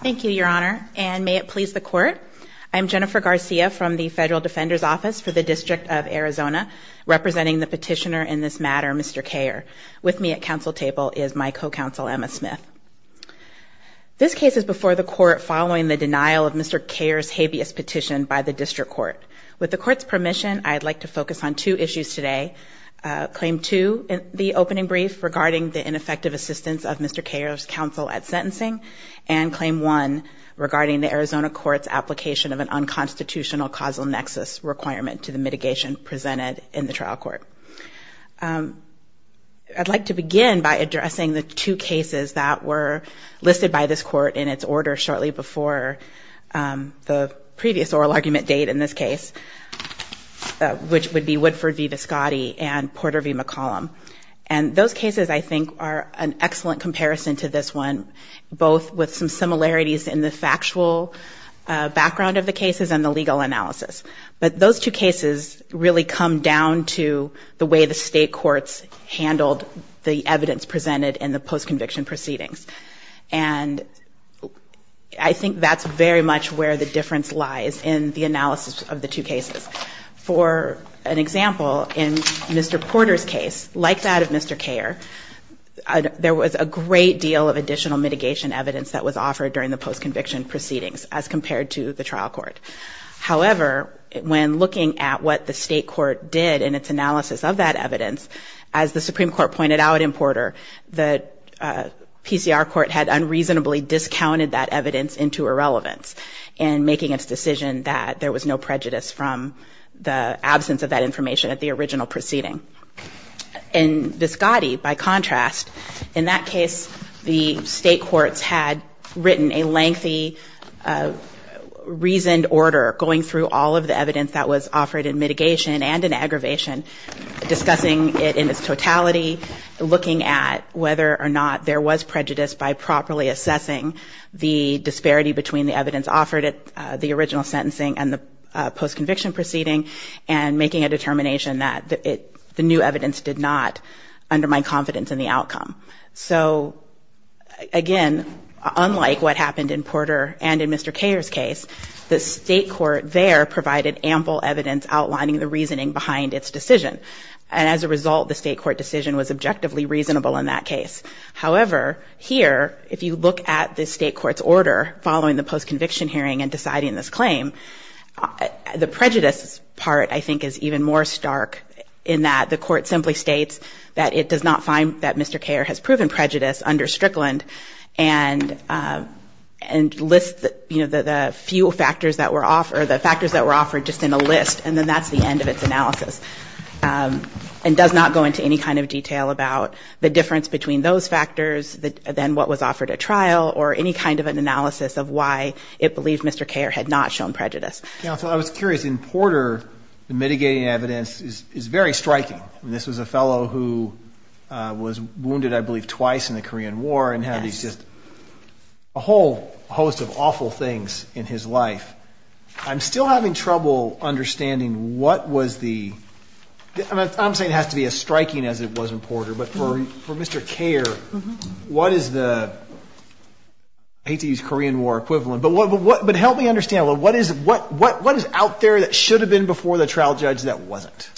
Thank you, Your Honor, and may it please the Court, I'm Jennifer Garcia from the Federal Defender's Office for the District of Arizona, representing the petitioner in this matter, Mr. Kayer. With me at council table is my co-counsel, Emma Smith. This case is before the Court following the denial of Mr. Kayer's habeas petition by the District Court. With the Court's permission, I'd like to focus on two issues today. Claim 2 in the opening brief regarding the ineffective assistance of Mr. Kayer's counsel at sentencing, and Claim 1 regarding the Arizona Court's application of an unconstitutional causal nexus requirement to the mitigation presented in the trial court. I'd like to begin by addressing the two cases that were listed by this Court in its order shortly before the previous oral argument date in this case, which would be Woodford v. Viscotti and Porter v. McCollum. And those cases, I think, are an excellent comparison to this one, both with some similarities in the factual background of the cases and the legal analysis. But those two cases really come down to the way the state courts handled the evidence presented in the post-conviction proceedings. And I think that's very much where the difference lies in the analysis of the two cases. For an example, in Mr. Porter's case, like that of Mr. Kayer, there was a great deal of additional mitigation evidence that was offered during the post-conviction proceedings as compared to the trial court. However, when looking at what the state court did in its analysis of that evidence, as the Supreme Court pointed out in Porter, the PCR court had unreasonably discounted that evidence into irrelevance in making its decision that there was no prejudice from the absence of that information at the original proceeding. In Viscotti, by contrast, in that case, the state courts had written a lengthy, reasoned order going through all of the evidence that was offered in mitigation and in aggravation, discussing it in its totality, looking at whether or not there was prejudice by properly assessing the disparity between the evidence offered at the original sentencing and the post-conviction proceeding, and making a determination that the new evidence did not undermine confidence in the outcome. So, again, unlike what happened in Porter and in Mr. Kayer's case, the state court there provided ample evidence outlining the reasoning behind its decision. And as a result, the state court decision was objectively reasonable in that case. However, here, if you look at the state court's order following the post-conviction hearing and deciding this claim, the prejudice part, I think, is even more stark in that the court simply states that it does not find that Mr. Kayer has proven prejudice under Strickland and lists, you know, the few factors that were offered, the factors that were offered just in a list, and then that's the end of its analysis, and does not go into any kind of detail about the difference between those factors, then what was offered at trial, or any kind of an analysis of why it believed Mr. Kayer had not shown prejudice. Counsel, I was curious, in Porter, the mitigating evidence is very striking. I mean, this was a fellow who was wounded, I believe, twice in the Korean War, and had these just, a whole host of awful things in his life. I'm still having trouble understanding what was the, I'm saying it has to be as striking as it was in Porter, but for Mr. Kayer, what is the, I hate to use Korean War equivalent, but help me understand, what is out there that should have been before the trial judge that wasn't?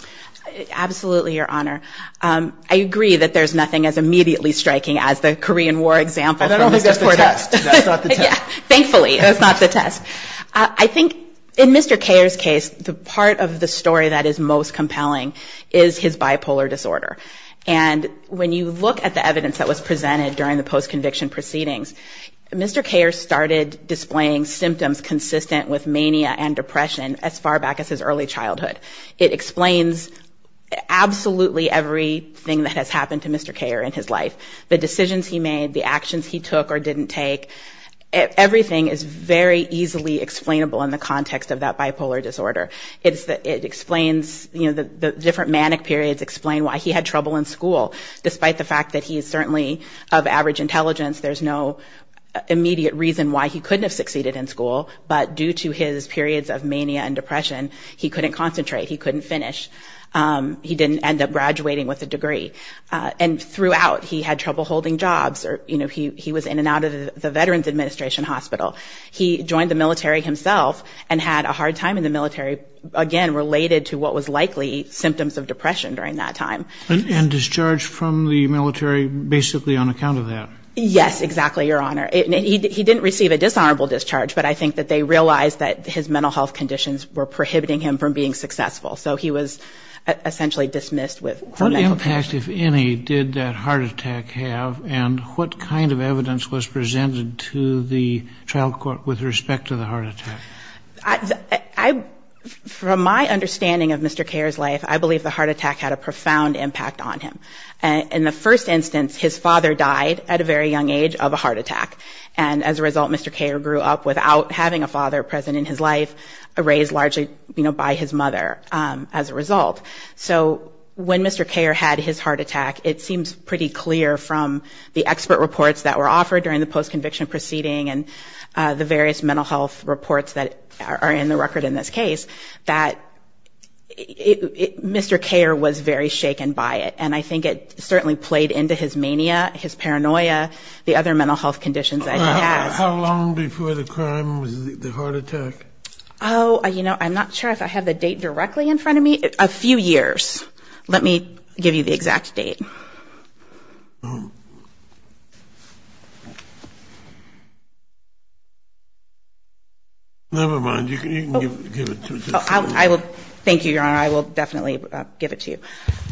Absolutely, Your Honor. I agree that there's nothing as immediately striking as the Korean War example. I don't think that's the test. That's not the test. Thankfully, that's not the test. I think, in Mr. Kayer's case, the part of the story that is most compelling is his bipolar disorder, and when you look at the evidence that was presented during the post-conviction proceedings, Mr. Kayer started displaying symptoms consistent with mania and depression as far back as his early childhood. It explains absolutely everything that has happened to Mr. Kayer in his life. The decisions he made, the actions he took or didn't take, everything is very easily explainable in the context of that bipolar disorder. It explains, the different manic periods explain why he had trouble in school, despite the fact that he is certainly of average intelligence. There's no immediate reason why he couldn't have succeeded in school, but due to his periods of mania and depression, he couldn't concentrate. He couldn't finish. He didn't end up graduating with a degree, and throughout, he had trouble holding jobs. He was in and out of the Veterans Administration Hospital. He joined the military himself and had a hard time in the military, again, related to what was likely symptoms of depression during that time. And discharged from the military basically on account of that? Yes, exactly, Your Honor. He didn't receive a dishonorable discharge, but I think that they realized that his mental health conditions were prohibiting him from being successful, so he was essentially dismissed from medical school. What impact, if any, did that heart attack have, and what kind of evidence was presented to the trial court with respect to the heart attack? From my understanding of Mr. Kher's life, I believe the heart attack had a profound impact on him. In the first instance, his father died at a very young age of a heart attack, and as a result, Mr. Kher grew up without having a father present in his life, raised largely by his mother as a result. So when Mr. Kher had his heart attack, it seems pretty clear from the expert reports that were offered during the post-conviction proceeding and the various mental health reports that are in the record in this case, that Mr. Kher was very shaken by it, and I think it certainly played into his mania, his paranoia, the other mental health conditions that he has. How long before the crime was the heart attack? Oh, you know, I'm not sure if I have the date directly in front of me. A few years. Let me give you the exact date. Never mind. You can give it to me. Thank you, Your Honor. I will definitely give it to you.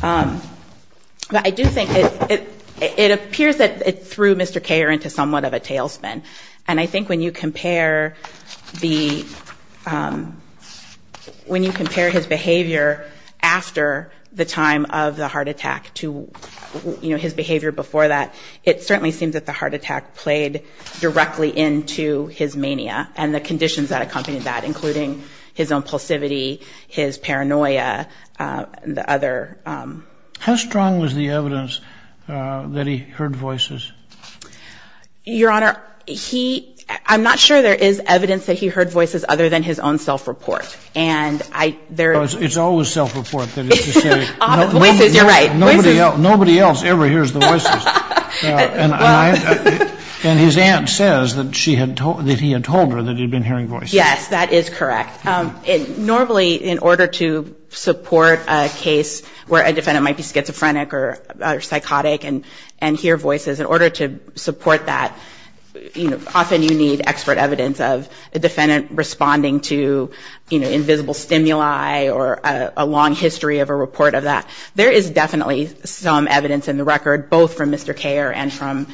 But I do think it appears that it threw Mr. Kher into somewhat of a tailspin, and I think when you compare the, when you compare his behavior after the time of the heart attack to, you know, his behavior before that, it certainly seems that the heart attack played directly into his mania and the conditions that accompanied that, including his own pulsivity, his paranoia, the other... How strong was the evidence that he heard voices? Your Honor, he, I'm not sure there is evidence that he heard voices other than his own self-report. It's always self-report. Nobody else ever hears the voices. And his aunt says that he had told her that he had been hearing voices. Yes, that is correct. Normally, in order to support a case where a defendant might be schizophrenic or psychotic and hear voices, in order to support that, you know, often you need expert evidence of a defendant responding to, you know, invisible stimuli or a long history of a report of that. There is definitely some evidence in the record, both from Mr. Kher and from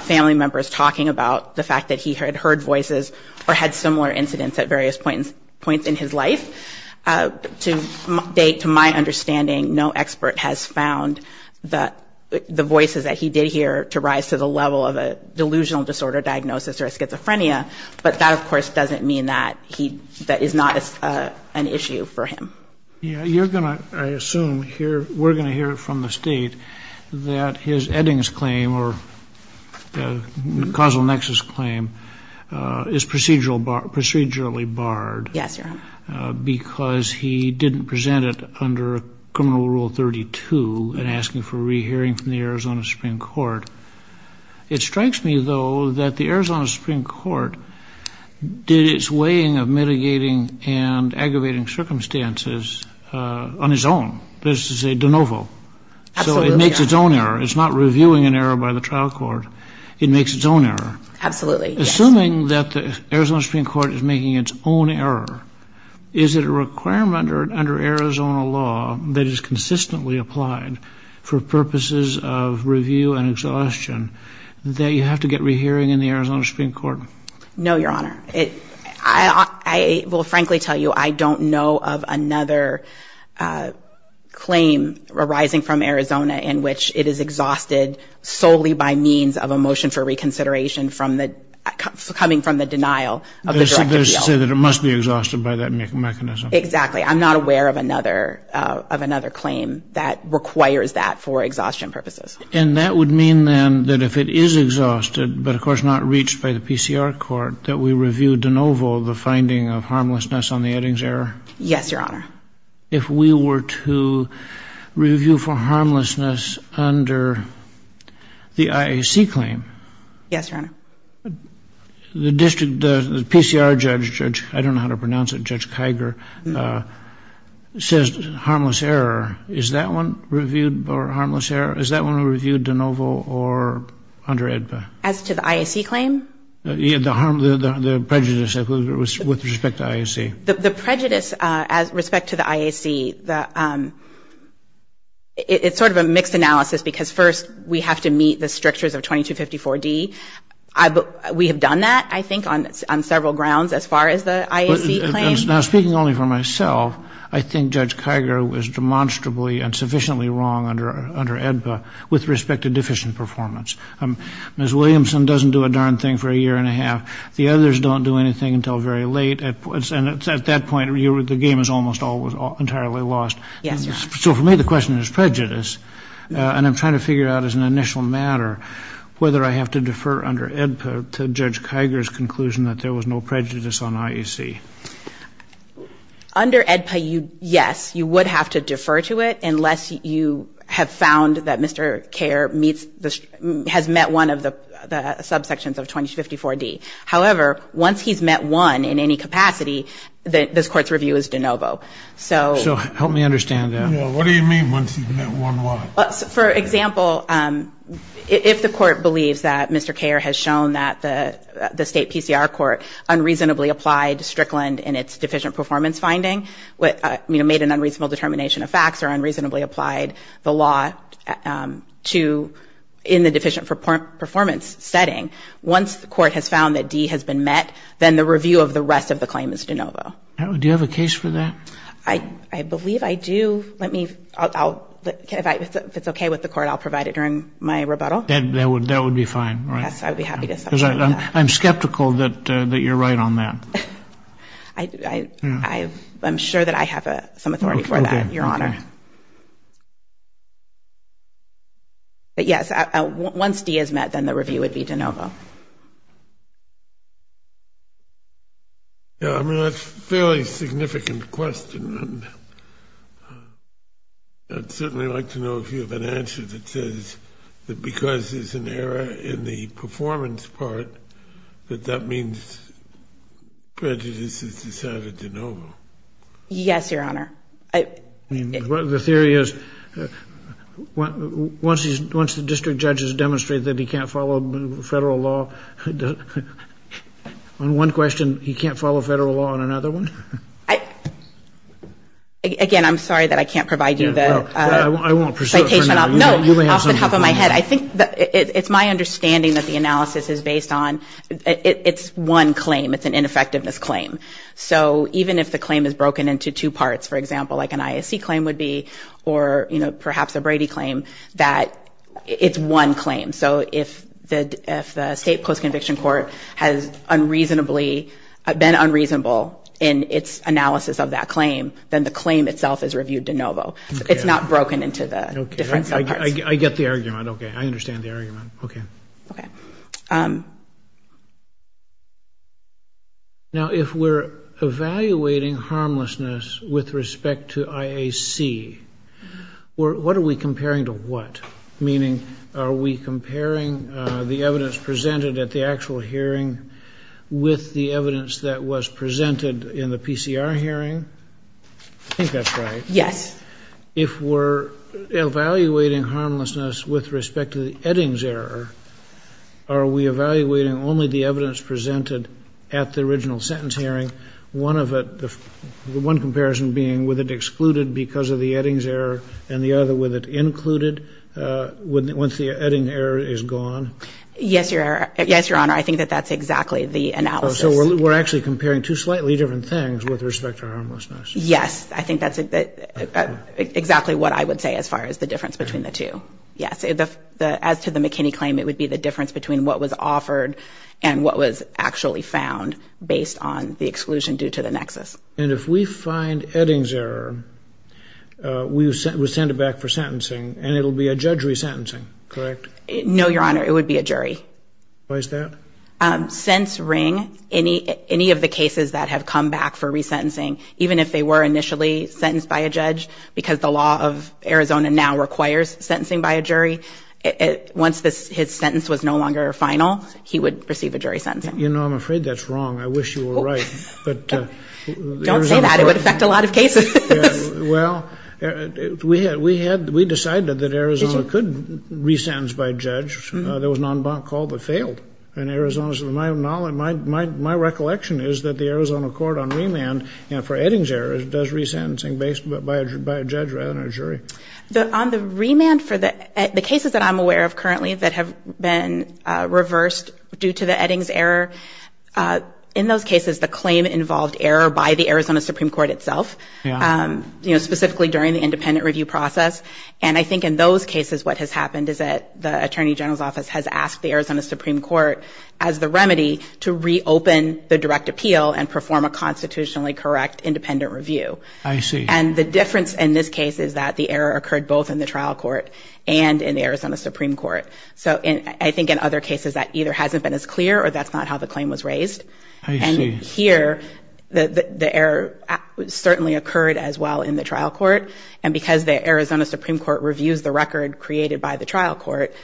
family members talking about the fact that he had heard voices or had similar incidents at various points in his life. To my understanding, no expert has found the voices that he did hear to rise to the level of a delusional disorder diagnosis or a schizophrenia, but that, of course, doesn't mean that he, that is not an issue for him. You're going to, I assume, hear, we're going to hear it from the State that his Eddings claim or causal nexus claim because he didn't present it under Criminal Rule 32 and asking for re-hearing from the Arizona Supreme Court. It strikes me, though, that the Arizona Supreme Court did its weighing of mitigating and aggravating circumstances on its own. This is a de novo. So it makes its own error. It's not reviewing an error by the trial court. It makes its own error. Assuming that the Arizona Supreme Court is making its own error, is it a requirement under Arizona law that is consistently applied for purposes of review and exhaustion that you have to get re-hearing in the Arizona Supreme Court? No, Your Honor. I will frankly tell you I don't know of another claim arising from Arizona in which it is exhausted solely by means of a motion for reconsideration coming from the denial of the direct appeal. It must be exhausted by that mechanism. Exactly. I'm not aware of another claim that requires that for exhaustion purposes. And that would mean, then, that if it is exhausted, but, of course, not reached by the PCR court, that we review de novo the finding of harmlessness on the Eddings error? Yes, Your Honor. If we were to review for harmlessness under the IAC claim? Yes, Your Honor. The district, the PCR judge, I don't know how to pronounce it, Judge Kiger, says harmless error. Is that one reviewed for harmless error? Is that one reviewed de novo or under EDPA? As to the IAC claim? The prejudice with respect to IAC. The prejudice with respect to the IAC, it's sort of a mixed analysis because first we have to meet the strictures of 2254D. We have done that, I think, on several grounds as far as the IAC claim. Now, speaking only for myself, I think Judge Kiger was demonstrably and sufficiently wrong under EDPA with respect to deficient performance. Ms. Williamson doesn't do a darn thing for a year and a half. The others don't do anything until very late, and at that point the game is almost entirely lost. Yes, Your Honor. So for me the question is prejudice, and I'm trying to figure out as an initial matter whether I have to defer under EDPA to Judge Kiger's conclusion that there was no prejudice on IAC. Under EDPA, yes, you would have to defer to it unless you have found that Mr. Kerr has met one of the subsections of 2254D. However, once he's met one in any capacity, this Court's review is de novo. So help me understand that. For example, if the Court believes that Mr. Kerr has shown that the state PCR court unreasonably applied Strickland in its deficient performance finding, made an unreasonable determination of facts or unreasonably applied the law in the deficient performance setting, once the Court has found that D has been met, then the review of the rest of the claim is de novo. Do you have a case for that? If it's okay with the Court, I'll provide it during my rebuttal. I'm skeptical that you're right on that. I'm sure that I have some authority for that, Your Honor. But yes, once D is met, then the review would be de novo. Yeah, I mean, that's a fairly significant question. I'd certainly like to know if you have an answer that says that because there's an error in the performance part, that that means prejudice is decided de novo. Yes, Your Honor. The theory is once the district judges demonstrate that he can't follow federal law on one question, he can't follow federal law on another one? Again, I'm sorry that I can't provide you the citation off the top of my head. I think it's my understanding that the analysis is based on it's one claim. It's an ineffectiveness claim. So even if the claim is broken into two parts, for example, like an ISC claim would be, or perhaps a Brady claim, that it's one claim. So if the state post-conviction court has been unreasonable in its analysis of that claim, then the claim itself is reviewed de novo. It's not broken into the different subparts. Now, if we're evaluating harmlessness with respect to IAC, what are we comparing to what? Meaning, are we comparing the evidence presented at the actual hearing with the evidence that was presented in the PCR hearing? I think that's right. If we're evaluating harmlessness with respect to the Eddings error, are we evaluating only the evidence presented at the original sentence hearing, one comparison being with it excluded because of the Eddings error and the other with it included once the Eddings error is gone? Yes, Your Honor. I think that that's exactly the analysis. Yes, I think that's exactly what I would say as far as the difference between the two. Yes, as to the McKinney claim, it would be the difference between what was offered and what was actually found based on the exclusion due to the nexus. And if we find Eddings error, we send it back for sentencing, and it will be a judge resentencing, correct? No, Your Honor, it would be a jury. Since Ring, any of the cases that have come back for resentencing, even if they were initially sentenced by a judge, because the law of Arizona now requires sentencing by a jury, once his sentence was no longer final, he would receive a jury sentencing. You know, I'm afraid that's wrong. I wish you were right. Don't say that. It would affect a lot of cases. Well, we decided that Arizona could resentence by a judge. There was an en banc call that failed. My recollection is that the Arizona court on remand for Eddings error does resentencing based by a judge rather than a jury. On the remand for the cases that I'm aware of currently that have been reversed due to the Eddings error, in those cases the claim involved error by the Arizona Supreme Court itself, specifically during the independent review process. And I think in those cases what has happened is that the attorney general's office has asked the Arizona Supreme Court as the remedy to reopen the direct appeal and perform a constitutionally correct independent review. I see. And here the error certainly occurred as well in the trial court, and because the Arizona Supreme Court reviews the record created by the trial court,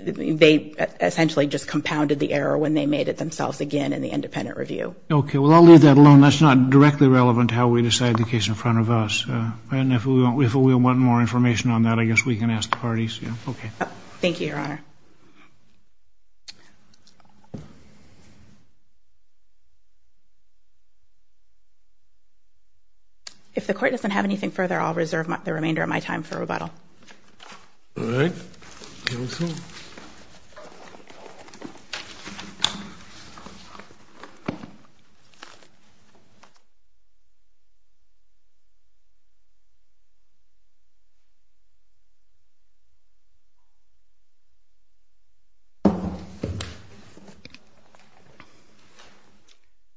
they essentially just compounded the error when they made it themselves again in the independent review. Okay. Well, I'll leave that alone. That's not directly relevant to how we decide the case in front of us. And if we want more information on that, I guess we can ask the parties. Thank you, Your Honor. If the court doesn't have anything further, I'll reserve the remainder of my time for rebuttal. All right. Thank you.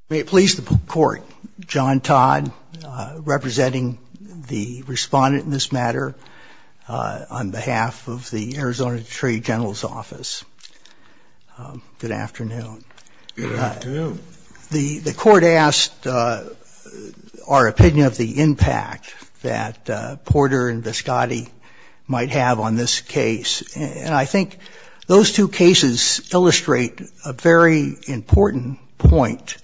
May it please the court. John Todd representing the respondent in this matter on behalf of the Arizona Attorney General's office. Good afternoon. The court asked our opinion of the impact that Porter and Viscotti might have on this case. And I think those two cases illustrate a very important point,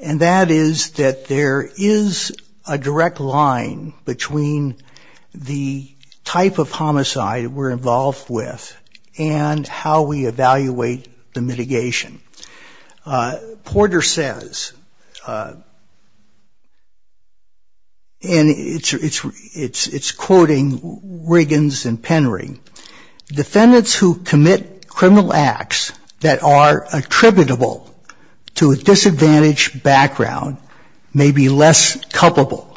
and that is that there is a direct line between the type of homicide we're involved with and how we evaluate the mitigation. Porter says, and it's quoting Riggins and Penry, defendants who commit criminal acts that are attributable to a disadvantaged background may be less culpable.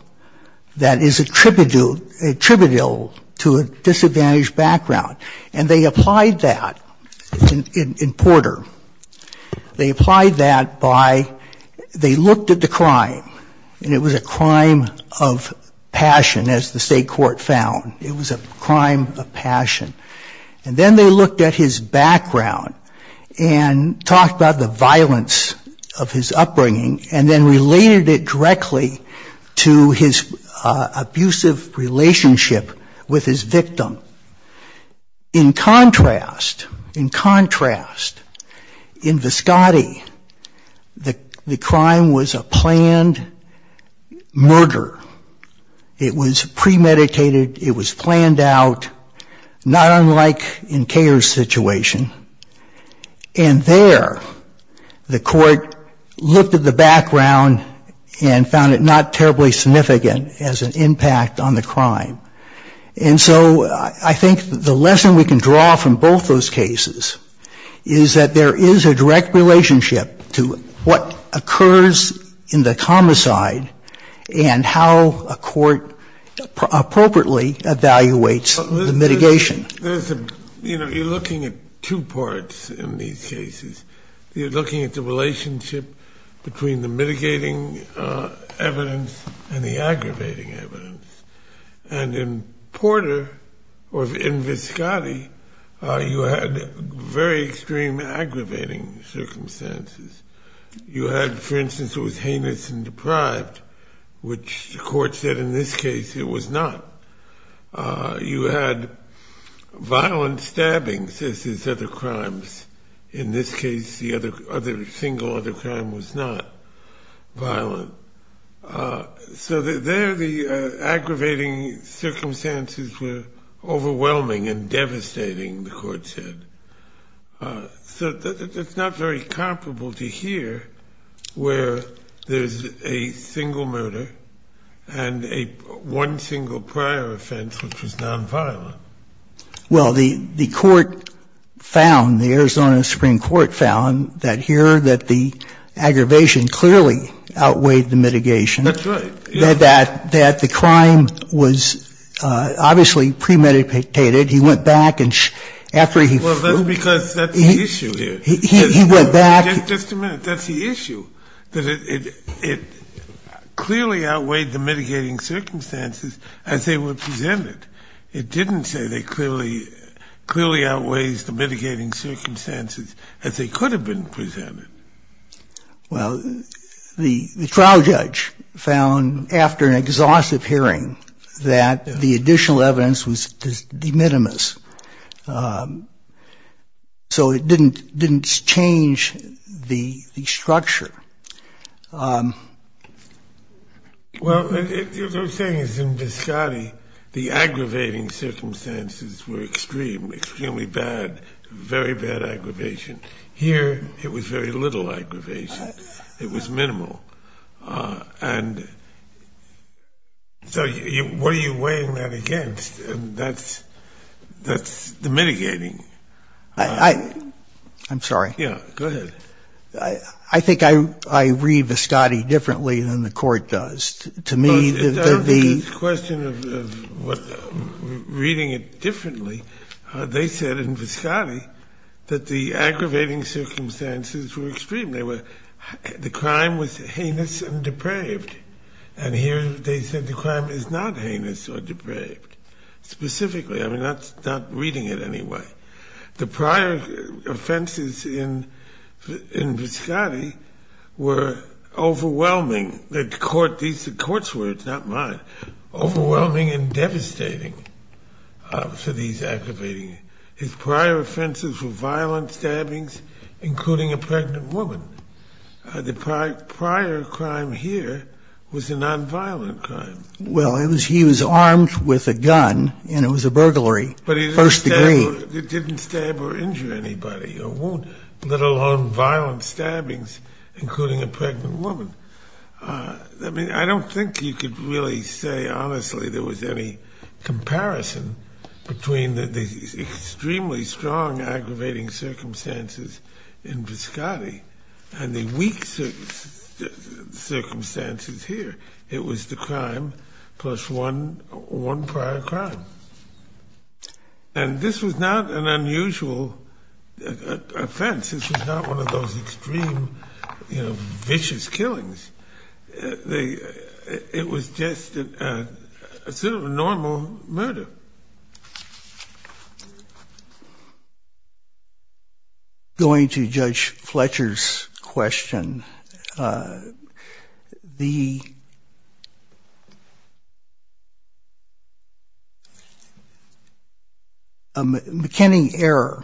That is attributable to a disadvantaged background. And they applied that in Porter. They applied that by, they looked at the crime, and it was a crime of passion, as the state court found. It was a crime of passion. And then they looked at his background and talked about the violence of his upbringing and then related it directly to his abusive relationship with his victim. In contrast, in contrast, in Viscotti, the crime was a planned murder. It was premeditated, it was planned out, not unlike in Kher's situation. And there the court looked at the background and found it not terribly significant as an impact on the crime. And so I think the lesson we can draw from both those cases is that there is a direct relationship to what occurs in the homicide and how a court appropriately evaluates the mitigation. There's a, you know, you're looking at two parts in these cases. You're looking at the relationship between the mitigating evidence and the aggravating evidence. And in Porter, or in Viscotti, you had very extreme aggravating circumstances. You had, for instance, it was heinous and deprived, which the court said in this case it was not. You had violent stabbings, as is other crimes. In this case, the other, single other crime was not violent. So there the aggravating circumstances were overwhelming and devastating, the court said. So it's not very comparable to here, where there's a single murder and one single prior offense, which was nonviolent. Well, the court found, the Arizona Supreme Court found, that here, that the aggravation clearly outweighed the violence. That's right. That the crime was obviously premeditated. He went back and after he flew. Well, that's because that's the issue here. He went back. Just a minute. That's the issue, that it clearly outweighed the mitigating circumstances as they were presented. It didn't say it clearly outweighs the mitigating circumstances as they could have been presented. Well, the trial judge found, after an exhaustive hearing, that the additional evidence was de minimis. So it didn't change the structure. Well, what I'm saying is in Viscotti, the aggravating circumstances were extreme, extremely bad, very bad aggravation. Here, it was very little aggravation. It was minimal. And so what are you weighing that against? That's the mitigating. I'm sorry. Yeah, go ahead. I think I read Viscotti differently than the court does. It's a question of reading it differently. They said in Viscotti that the aggravating circumstances were extreme. The crime was heinous and depraved. And here they said the crime is not heinous or depraved, specifically. I mean, that's not reading it anyway. The prior offenses in Viscotti were overwhelming. These are the court's words, not mine. Overwhelming and devastating for these aggravating. His prior offenses were violent stabbings, including a pregnant woman. The prior crime here was a nonviolent crime. Well, he was armed with a gun, and it was a burglary, first degree. It didn't stab or injure anybody or wound, let alone violent stabbings, including a pregnant woman. I mean, I don't think you could really say, honestly, there was any comparison between the extremely strong aggravating circumstances in Viscotti and the weak circumstances here. It was the crime plus one prior crime. And this was not an unusual offense. This was not one of those extreme, you know, vicious killings. It was just a sort of normal murder. Going to Judge Fletcher's question, the McKinney error,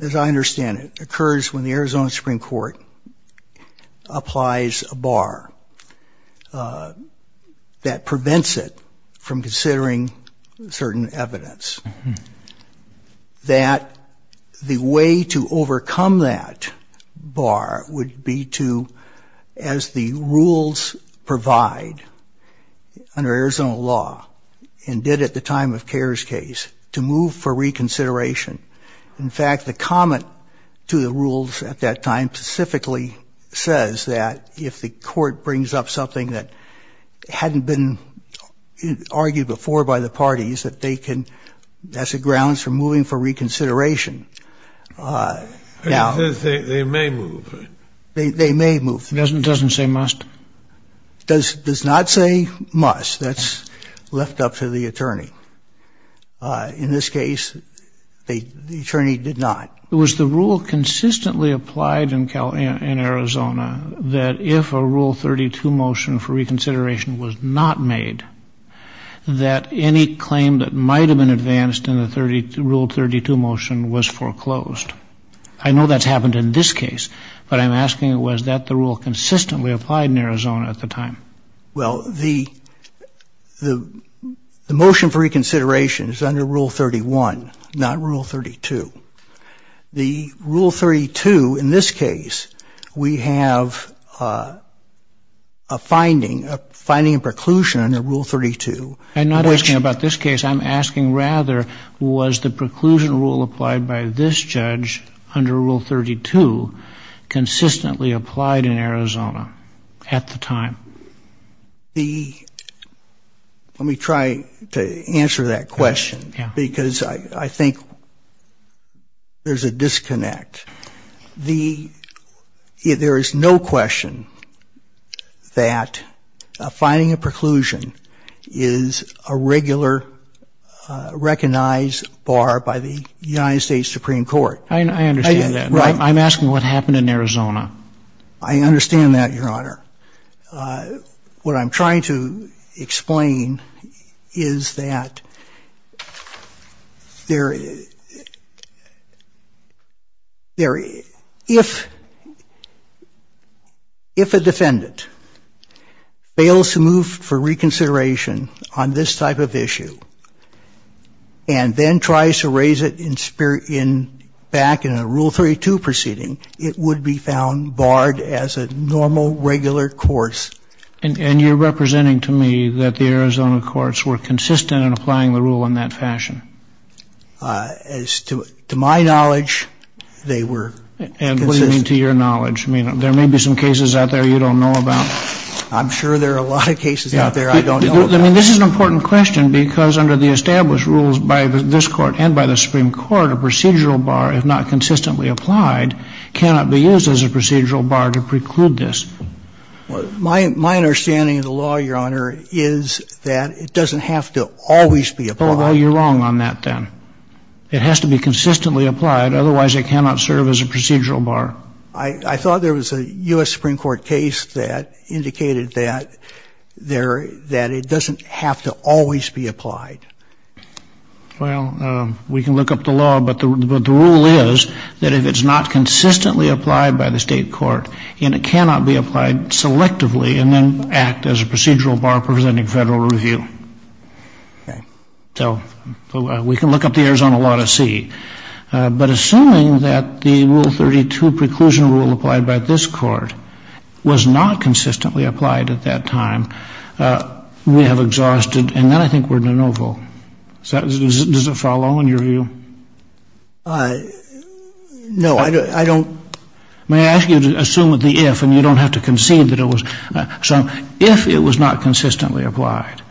as I understand it, occurs when the Arizona Supreme Court applies a bar that prevents it from considering certain evidence. That the way to overcome that bar would be to, as the rules provide, under Arizona law, and did at the time of Kerr's case, to move for reconsideration. In fact, the comment to the rules at that time specifically says that if the court brings up something that hadn't been argued before by the parties, that they can, that's a grounds for moving for reconsideration. They may move. Doesn't say must. Does not say must. That's left up to the attorney. In this case, the attorney did not. It was the rule consistently applied in Arizona that if a Rule 32 motion for reconsideration was not made, that any claim that might have been made, but I'm asking was that the rule consistently applied in Arizona at the time? Well, the motion for reconsideration is under Rule 31, not Rule 32. The Rule 32, in this case, we have a finding, a finding and preclusion under Rule 32. I'm not asking about this case. I'm asking, rather, was the preclusion rule applied by this judge under Rule 32 consistently applied in Arizona at the time? Let me try to answer that question, because I think there's a disconnect. There is no question that finding a preclusion is a regular procedure. It's not recognized, barred by the United States Supreme Court. I understand that. I'm asking what happened in Arizona. I understand that, Your Honor. What I'm trying to explain is that there, if a defendant fails to move for reconsideration on this type of issue, and then tries to raise it back in a Rule 32 proceeding, it would be found barred as a normal, regular course. And you're representing to me that the Arizona courts were consistent in applying the rule in that fashion? As to my knowledge, they were consistent. And what do you mean to your knowledge? I mean, there may be some cases out there you don't know about. I'm sure there are a lot of cases out there I don't know about. I mean, this is an important question, because under the established rules by this Court and by the Supreme Court, a procedural bar, if not consistently applied, cannot be used as a procedural bar to preclude this. My understanding of the law, Your Honor, is that it doesn't have to always be applied. Well, you're wrong on that, then. It has to be consistently applied, otherwise it cannot serve as a procedural bar. I thought there was a U.S. Supreme Court case that indicated that it doesn't have to always be applied. Well, we can look up the law, but the rule is that if it's not consistently applied by the State court, and it cannot be applied selectively and then act as a procedural bar presenting Federal review. So we can look up the Arizona law to see. But assuming that the Rule 32 preclusion rule applied by this Court was not consistently applied at that time, we have exhausted, and then I think we're de novo. Does that follow in your view? No, I don't. May I ask you to assume that the if, and you don't have to concede that it was, so if it was not consistently applied,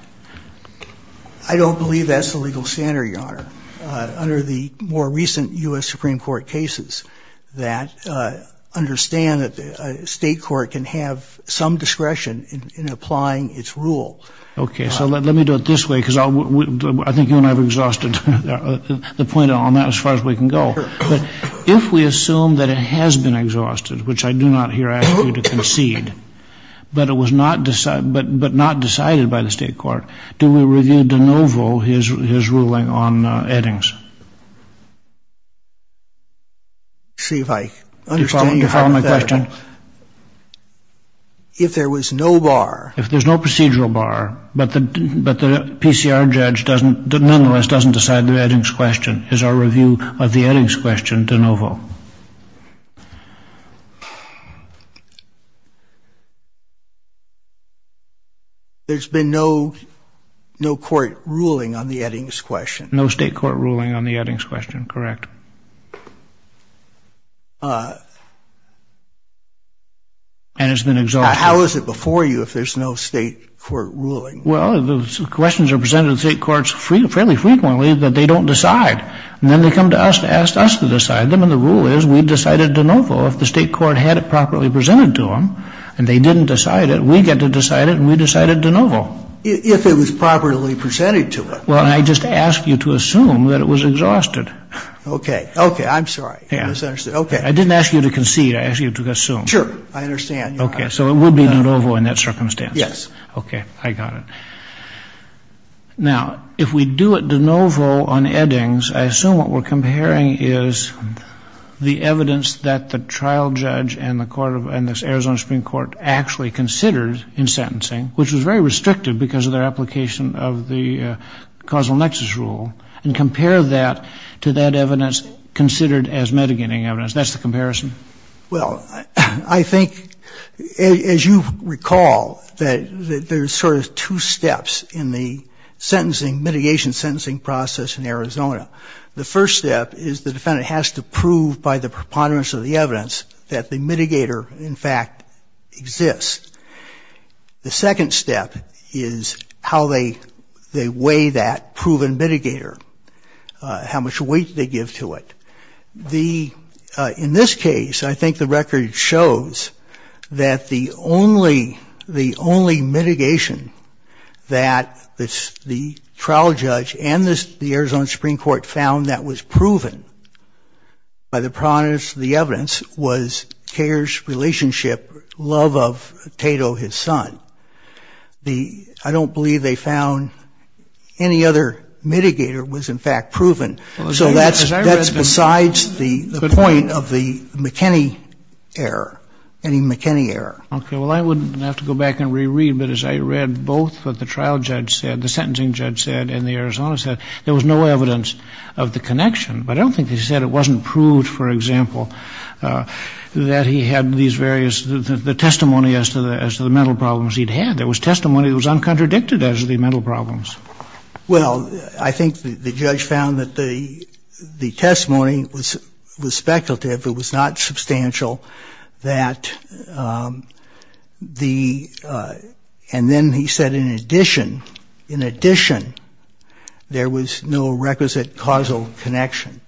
I don't believe that's the legal standard, Your Honor, under the more recent U.S. Supreme Court cases that understand that the State court can have some discretion in applying its rule. Okay, so let me do it this way, because I think you and I have exhausted the point on that as far as we can go. But if we assume that it has been exhausted, which I do not here ask you to concede, but it was not decided by the State court, do we review de novo his ruling on Eddings? See, if I understand you, Your Honor, if there was no bar. If there's no procedural bar, but the PCR judge nonetheless doesn't decide the Eddings question, is our review of the Eddings question de novo? There's been no court ruling on the Eddings question. No State court ruling on the Eddings question, correct. And it's been exhausted. How is it before you if there's no State court ruling? Well, the questions are presented to the State courts fairly frequently that they don't decide. And then they come to us to ask us to decide them. And the rule is we decided de novo if the State court had it properly presented to them. And they didn't decide it. We get to decide it, and we decided de novo. If it was properly presented to them. Well, I just asked you to assume that it was exhausted. Okay. Okay. I'm sorry. I misunderstood. Okay. I didn't ask you to concede. I asked you to assume. Sure. I understand, Your Honor. Okay. So it would be de novo in that circumstance. Yes. Okay. I got it. Now, if we do it de novo on Eddings, I assume what we're comparing is the evidence that the trial judge and the court of the Arizona Supreme Court actually considered in sentencing, which was very restrictive because of their application of the causal nexus rule, and compare that to that evidence considered as mitigating evidence. That's the comparison? Well, I think, as you recall, that there's sort of two steps in the sentencing mitigation sentencing process in Arizona. The first step is the defendant has to prove by the preponderance of the evidence that the mitigator, in fact, exists. The second step is how they weigh that proven mitigator, how much weight they give to it. In this case, I think the record shows that the only mitigation that the trial judge and the Arizona Supreme Court found that was proven by the preponderance of the evidence was Kayer's relationship, love of Tato, his son. I don't believe they found any other mitigator was, in fact, proven. So that's besides the point of the McKinney error, any McKinney error. Okay. Well, I would have to go back and reread, but as I read both what the trial judge said, the sentencing judge said, and the Arizona said, there was no evidence of the connection. But I don't think they said it wasn't proved, for example, that he had these various the testimony as to the mental problems he'd had. There was testimony that was uncontradicted as to the mental problems. Well, I think the judge found that the testimony was speculative. It was not substantial that the, and then he said in addition, in addition, there was no requisite causal connection.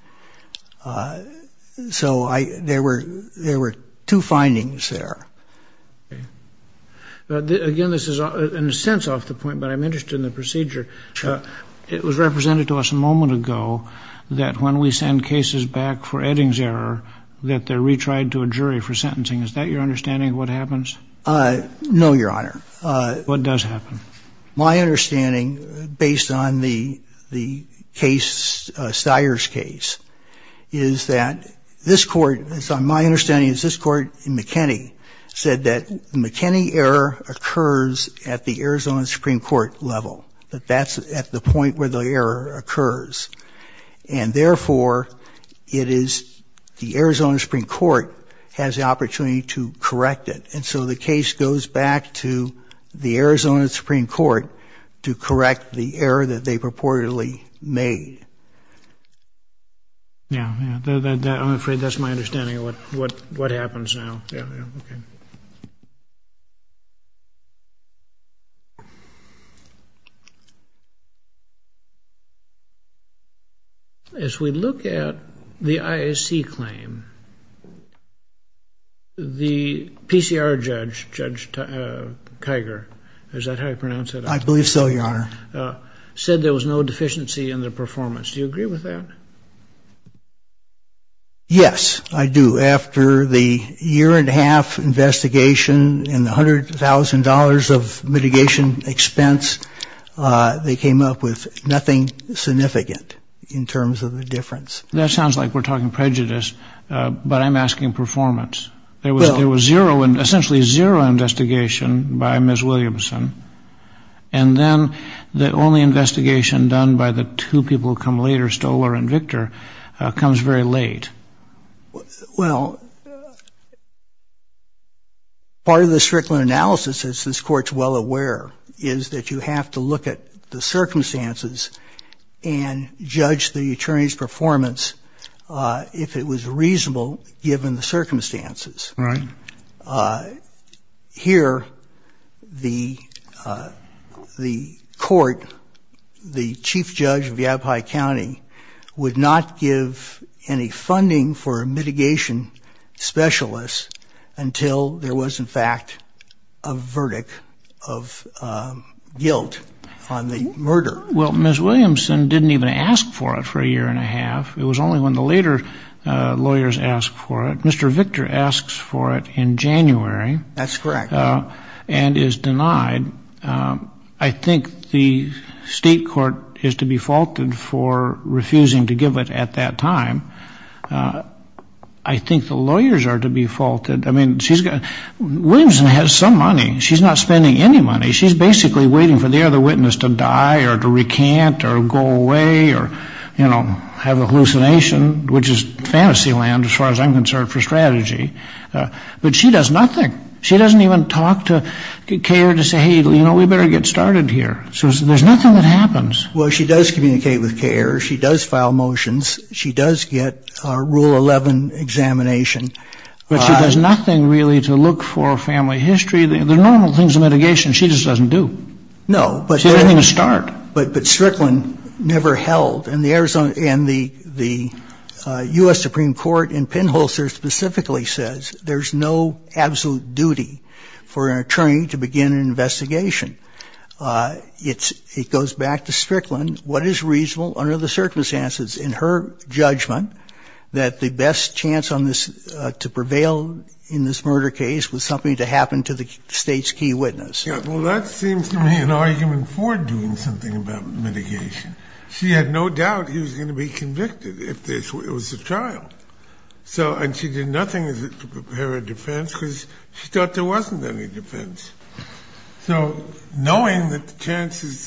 So there were two findings there. Okay. Again, this is in a sense off the point, but I'm interested in the procedure. Sure. It was represented to us a moment ago that when we send cases back for Eddings error, that they're retried to a jury for sentencing. Is that your understanding of what happens? No, Your Honor. What does happen? My understanding, based on the case, Steyer's case, is that this court, it's on my understanding that the error occurs at the Arizona Supreme Court level. That that's at the point where the error occurs. And therefore, it is the Arizona Supreme Court has the opportunity to correct it. And so the case goes back to the Arizona Supreme Court to correct the error that they purportedly made. Yeah. Yeah. I'm afraid that's my understanding of what happens now. Yeah. Yeah. Okay. As we look at the IAC claim, the PCR judge, Judge Kiger, is that how you pronounce it? I believe so, Your Honor. Said there was no deficiency in the performance. Do you agree with that? Yes, I do. After the year and a half investigation and the $100,000 of mitigation expense, they came up with nothing significant in terms of the difference. That sounds like we're talking prejudice, but I'm asking performance. There was zero, essentially zero investigation by Ms. Williamson. And then the only investigation done by the two people who come later, Stoler and Victor, comes very late. Well, part of the Strickland analysis, as this Court's well aware, is that you have to look at the circumstances and judge the attorney's performance if it was reasonable given the circumstances. Right. Here, the Court, the Chief Judge of Yavapai County, would not give any funding for a mitigation specialist until there was, in fact, a verdict of guilt on the murder. Well, Ms. Williamson didn't even ask for it for a year and a half. It was only when the later lawyers asked for it. Mr. Victor asks for it in January. That's correct. And is denied. I think the State Court is to be faulted for refusing to give it at that time. I think the lawyers are to be faulted. I mean, Williamson has some money. She's not spending any money. She's basically waiting for the other witness to die or to recant or go away or, you know, have a hallucination, which is fantasy land as far as I'm concerned for strategy. But she does nothing. She doesn't even talk to K.A.R.E. to say, hey, you know, we better get started here. There's nothing that happens. Well, she does communicate with K.A.R.E. She does file motions. She does get a Rule 11 examination. But she does nothing really to look for family history. The normal things in mitigation she just doesn't do. No. She doesn't even start. But Strickland never held. And the U.S. Supreme Court in Penholster specifically says there's no absolute duty for an attorney to begin an investigation. It goes back to Strickland. What is reasonable under the circumstances in her judgment that the best chance on this, to prevail in this murder case was something to happen to the State's key witness? Well, that seems to me an argument for doing something about mitigation. She had no doubt he was going to be convicted if it was a trial. And she did nothing to prepare a defense because she thought there wasn't any defense. So knowing that the chances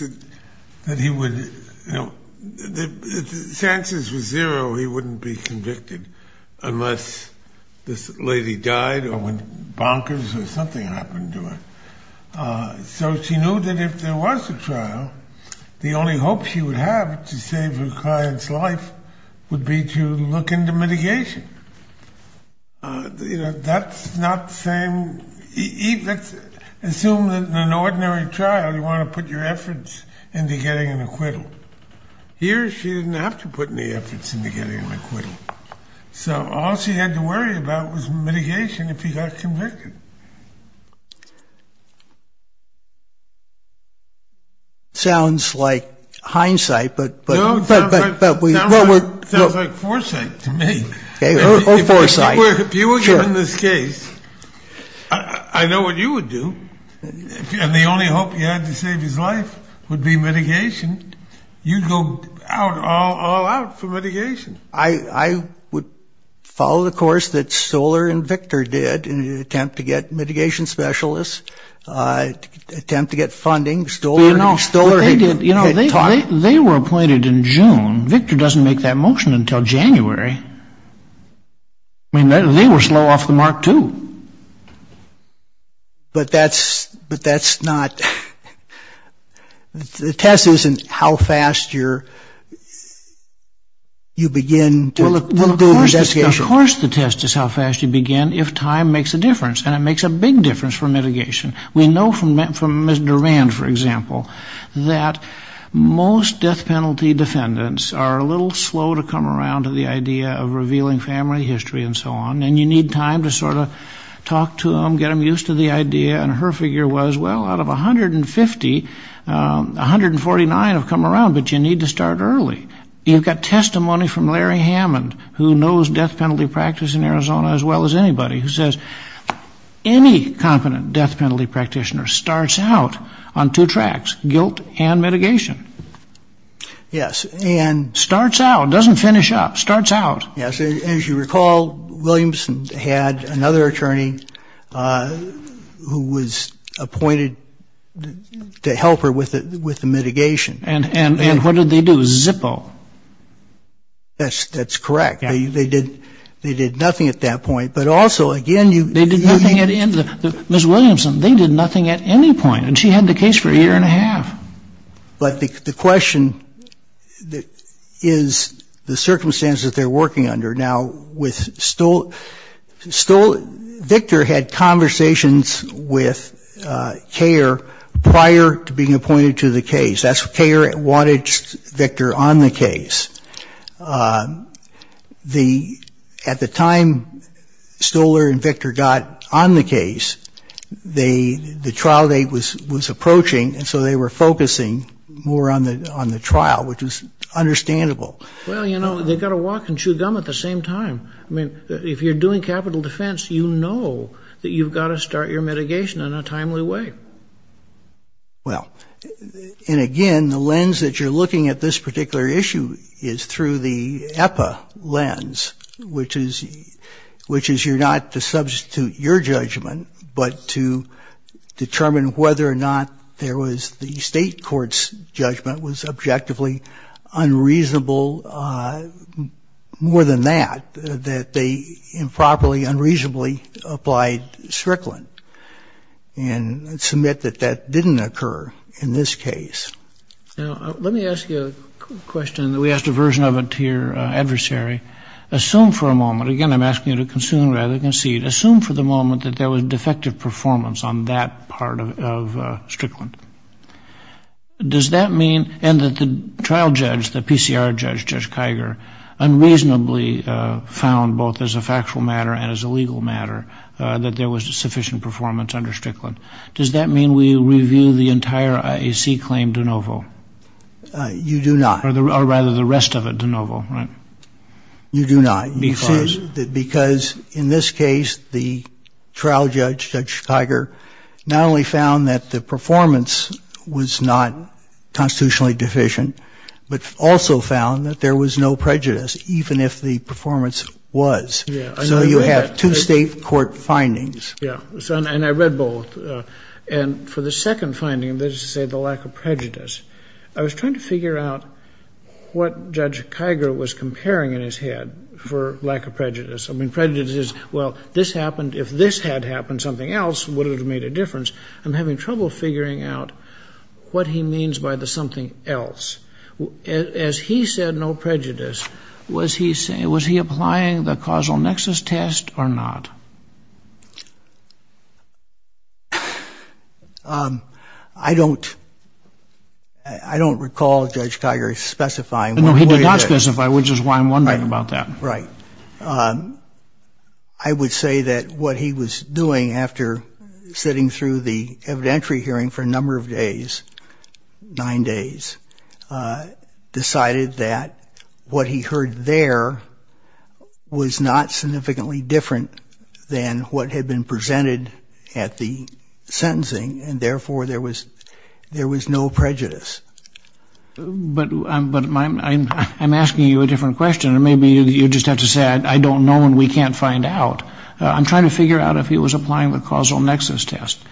that he would, you know, if the chances were zero, he wouldn't be convicted unless this lady died or went bonkers or something happened to her. So she knew that if there was a trial, the only hope she would have to save her client's life would be to look into mitigation. You know, that's not the same. Assume that in an ordinary trial you want to put your efforts into getting an acquittal. Here she didn't have to put any efforts into getting an acquittal. So all she had to worry about was mitigation if he got convicted. Sounds like hindsight. Sounds like foresight to me. If you were given this case, I know what you would do. And the only hope you had to save his life would be mitigation. You'd go all out for mitigation. I would follow the course that Stoller and Victor did in an attempt to get mitigation specialists, attempt to get funding. But, you know, they were appointed in June. Victor doesn't make that motion until January. I mean, they were slow off the mark, too. But that's not, the test isn't how fast you begin to do the investigation. Well, of course the test is how fast you begin if time makes a difference. And it makes a big difference for mitigation. We know from Ms. Durand, for example, that most death penalty defendants are a little slow to come around to the idea of revealing family history and so on. And you need time to sort of talk to them, get them used to the idea. And her figure was, well, out of 150, 149 have come around. But you need to start early. You've got testimony from Larry Hammond, who knows death penalty practice in Arizona as well as anybody, who says any competent death penalty practitioner starts out on two tracks, guilt and mitigation. Yes. Starts out, doesn't finish up. Starts out. Yes. As you recall, Williamson had another attorney who was appointed to help her with the mitigation. And what did they do? Zippo. That's correct. They did nothing at that point. But also, again, you need to. They did nothing. Ms. Williamson, they did nothing at any point. And she had the case for a year and a half. But the question is the circumstances that they're working under. Now, Victor had conversations with Kayer prior to being appointed to the case. Kayer wanted Victor on the case. At the time Stoller and Victor got on the case, the trial date was approaching. And so they were focusing more on the trial, which was understandable. Well, you know, they've got to walk and chew gum at the same time. I mean, if you're doing capital defense, you know that you've got to start your mitigation in a timely way. Well, and again, the lens that you're looking at this particular issue is through the EPA lens, which is you're not to substitute your judgment, but to determine whether or not there was the state court's judgment was objectively unreasonable. More than that, that they improperly, unreasonably applied Strickland and submit that that didn't occur in this case. Now, let me ask you a question that we asked a version of it to your adversary. Assume for a moment, again, I'm asking you to consume rather than concede, assume for the moment that there was defective performance on that part of Strickland. Does that mean, and that the trial judge, the PCR judge, Judge Kiger, unreasonably found both as a factual matter and as a legal matter that there was sufficient performance under Strickland. Does that mean we review the entire IAC claim de novo? You do not. Or rather, the rest of it de novo, right? You do not, because in this case, the trial judge, Judge Kiger, not only found that the performance was not constitutionally deficient, but also found that there was no prejudice, even if the performance was. So you have two state court findings. Yeah. And I read both. And for the second finding, that is to say the lack of prejudice, I was trying to figure out what Judge Kiger was comparing in his head for lack of prejudice. I mean, prejudice is, well, this happened. If this had happened, something else would have made a difference. I'm having trouble figuring out what he means by the something else. As he said no prejudice, was he applying the causal nexus test or not? I don't recall Judge Kiger specifying. No, he did not specify, which is why I'm wondering about that. Right. I would say that what he was doing after sitting through the evidentiary hearing for a number of days, nine days, decided that what he heard there was not significantly different than what had been presented at the sentencing, and therefore there was no prejudice. But I'm asking you a different question. Maybe you just have to say I don't know and we can't find out. I'm trying to figure out if he was applying the causal nexus test.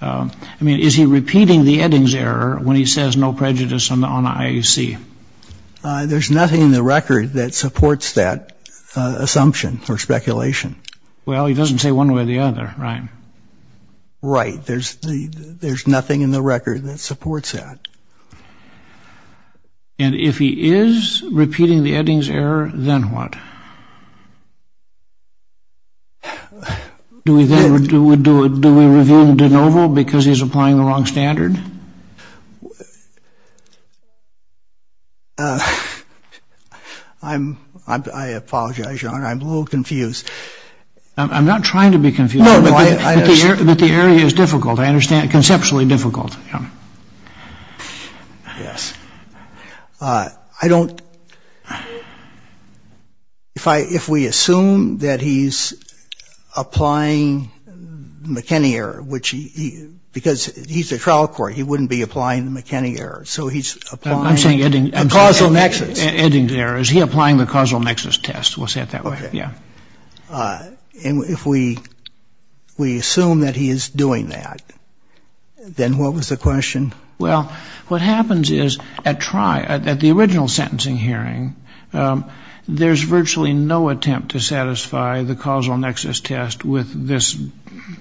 I mean, is he repeating the Eddings error when he says no prejudice on the IAC? There's nothing in the record that supports that assumption or speculation. Well, he doesn't say one way or the other, right? Right. There's nothing in the record that supports that. And if he is repeating the Eddings error, then what? Do we review the de novo because he's applying the wrong standard? I apologize, Your Honor. I'm a little confused. I'm not trying to be confused. But the area is difficult, I understand, conceptually difficult. Yes. I don't – if we assume that he's applying McKinney error, which he – because he's a trial court, he wouldn't be applying the McKinney error. So he's applying the causal nexus. Eddings error. Is he applying the causal nexus test? We'll say it that way. Okay. Yeah. And if we assume that he is doing that, then what was the question? Well, what happens is at the original sentencing hearing, there's virtually no attempt to satisfy the causal nexus test with this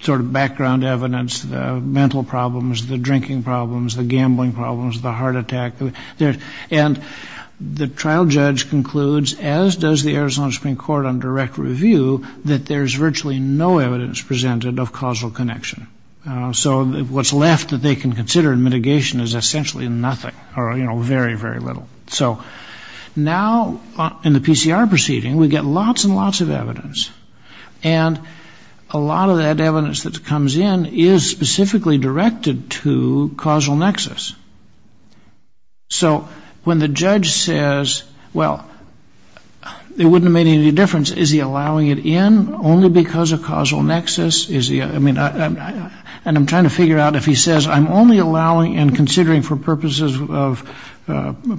sort of background evidence, the mental problems, the drinking problems, the gambling problems, the heart attack. And the trial judge concludes, as does the Arizona Supreme Court on direct review, that there's virtually no evidence presented of causal connection. So what's left that they can consider in mitigation is essentially nothing or, you know, very, very little. So now in the PCR proceeding, we get lots and lots of evidence. And a lot of that evidence that comes in is specifically directed to causal nexus. So when the judge says, well, it wouldn't have made any difference. Is he allowing it in only because of causal nexus? And I'm trying to figure out if he says, I'm only allowing and considering for purposes of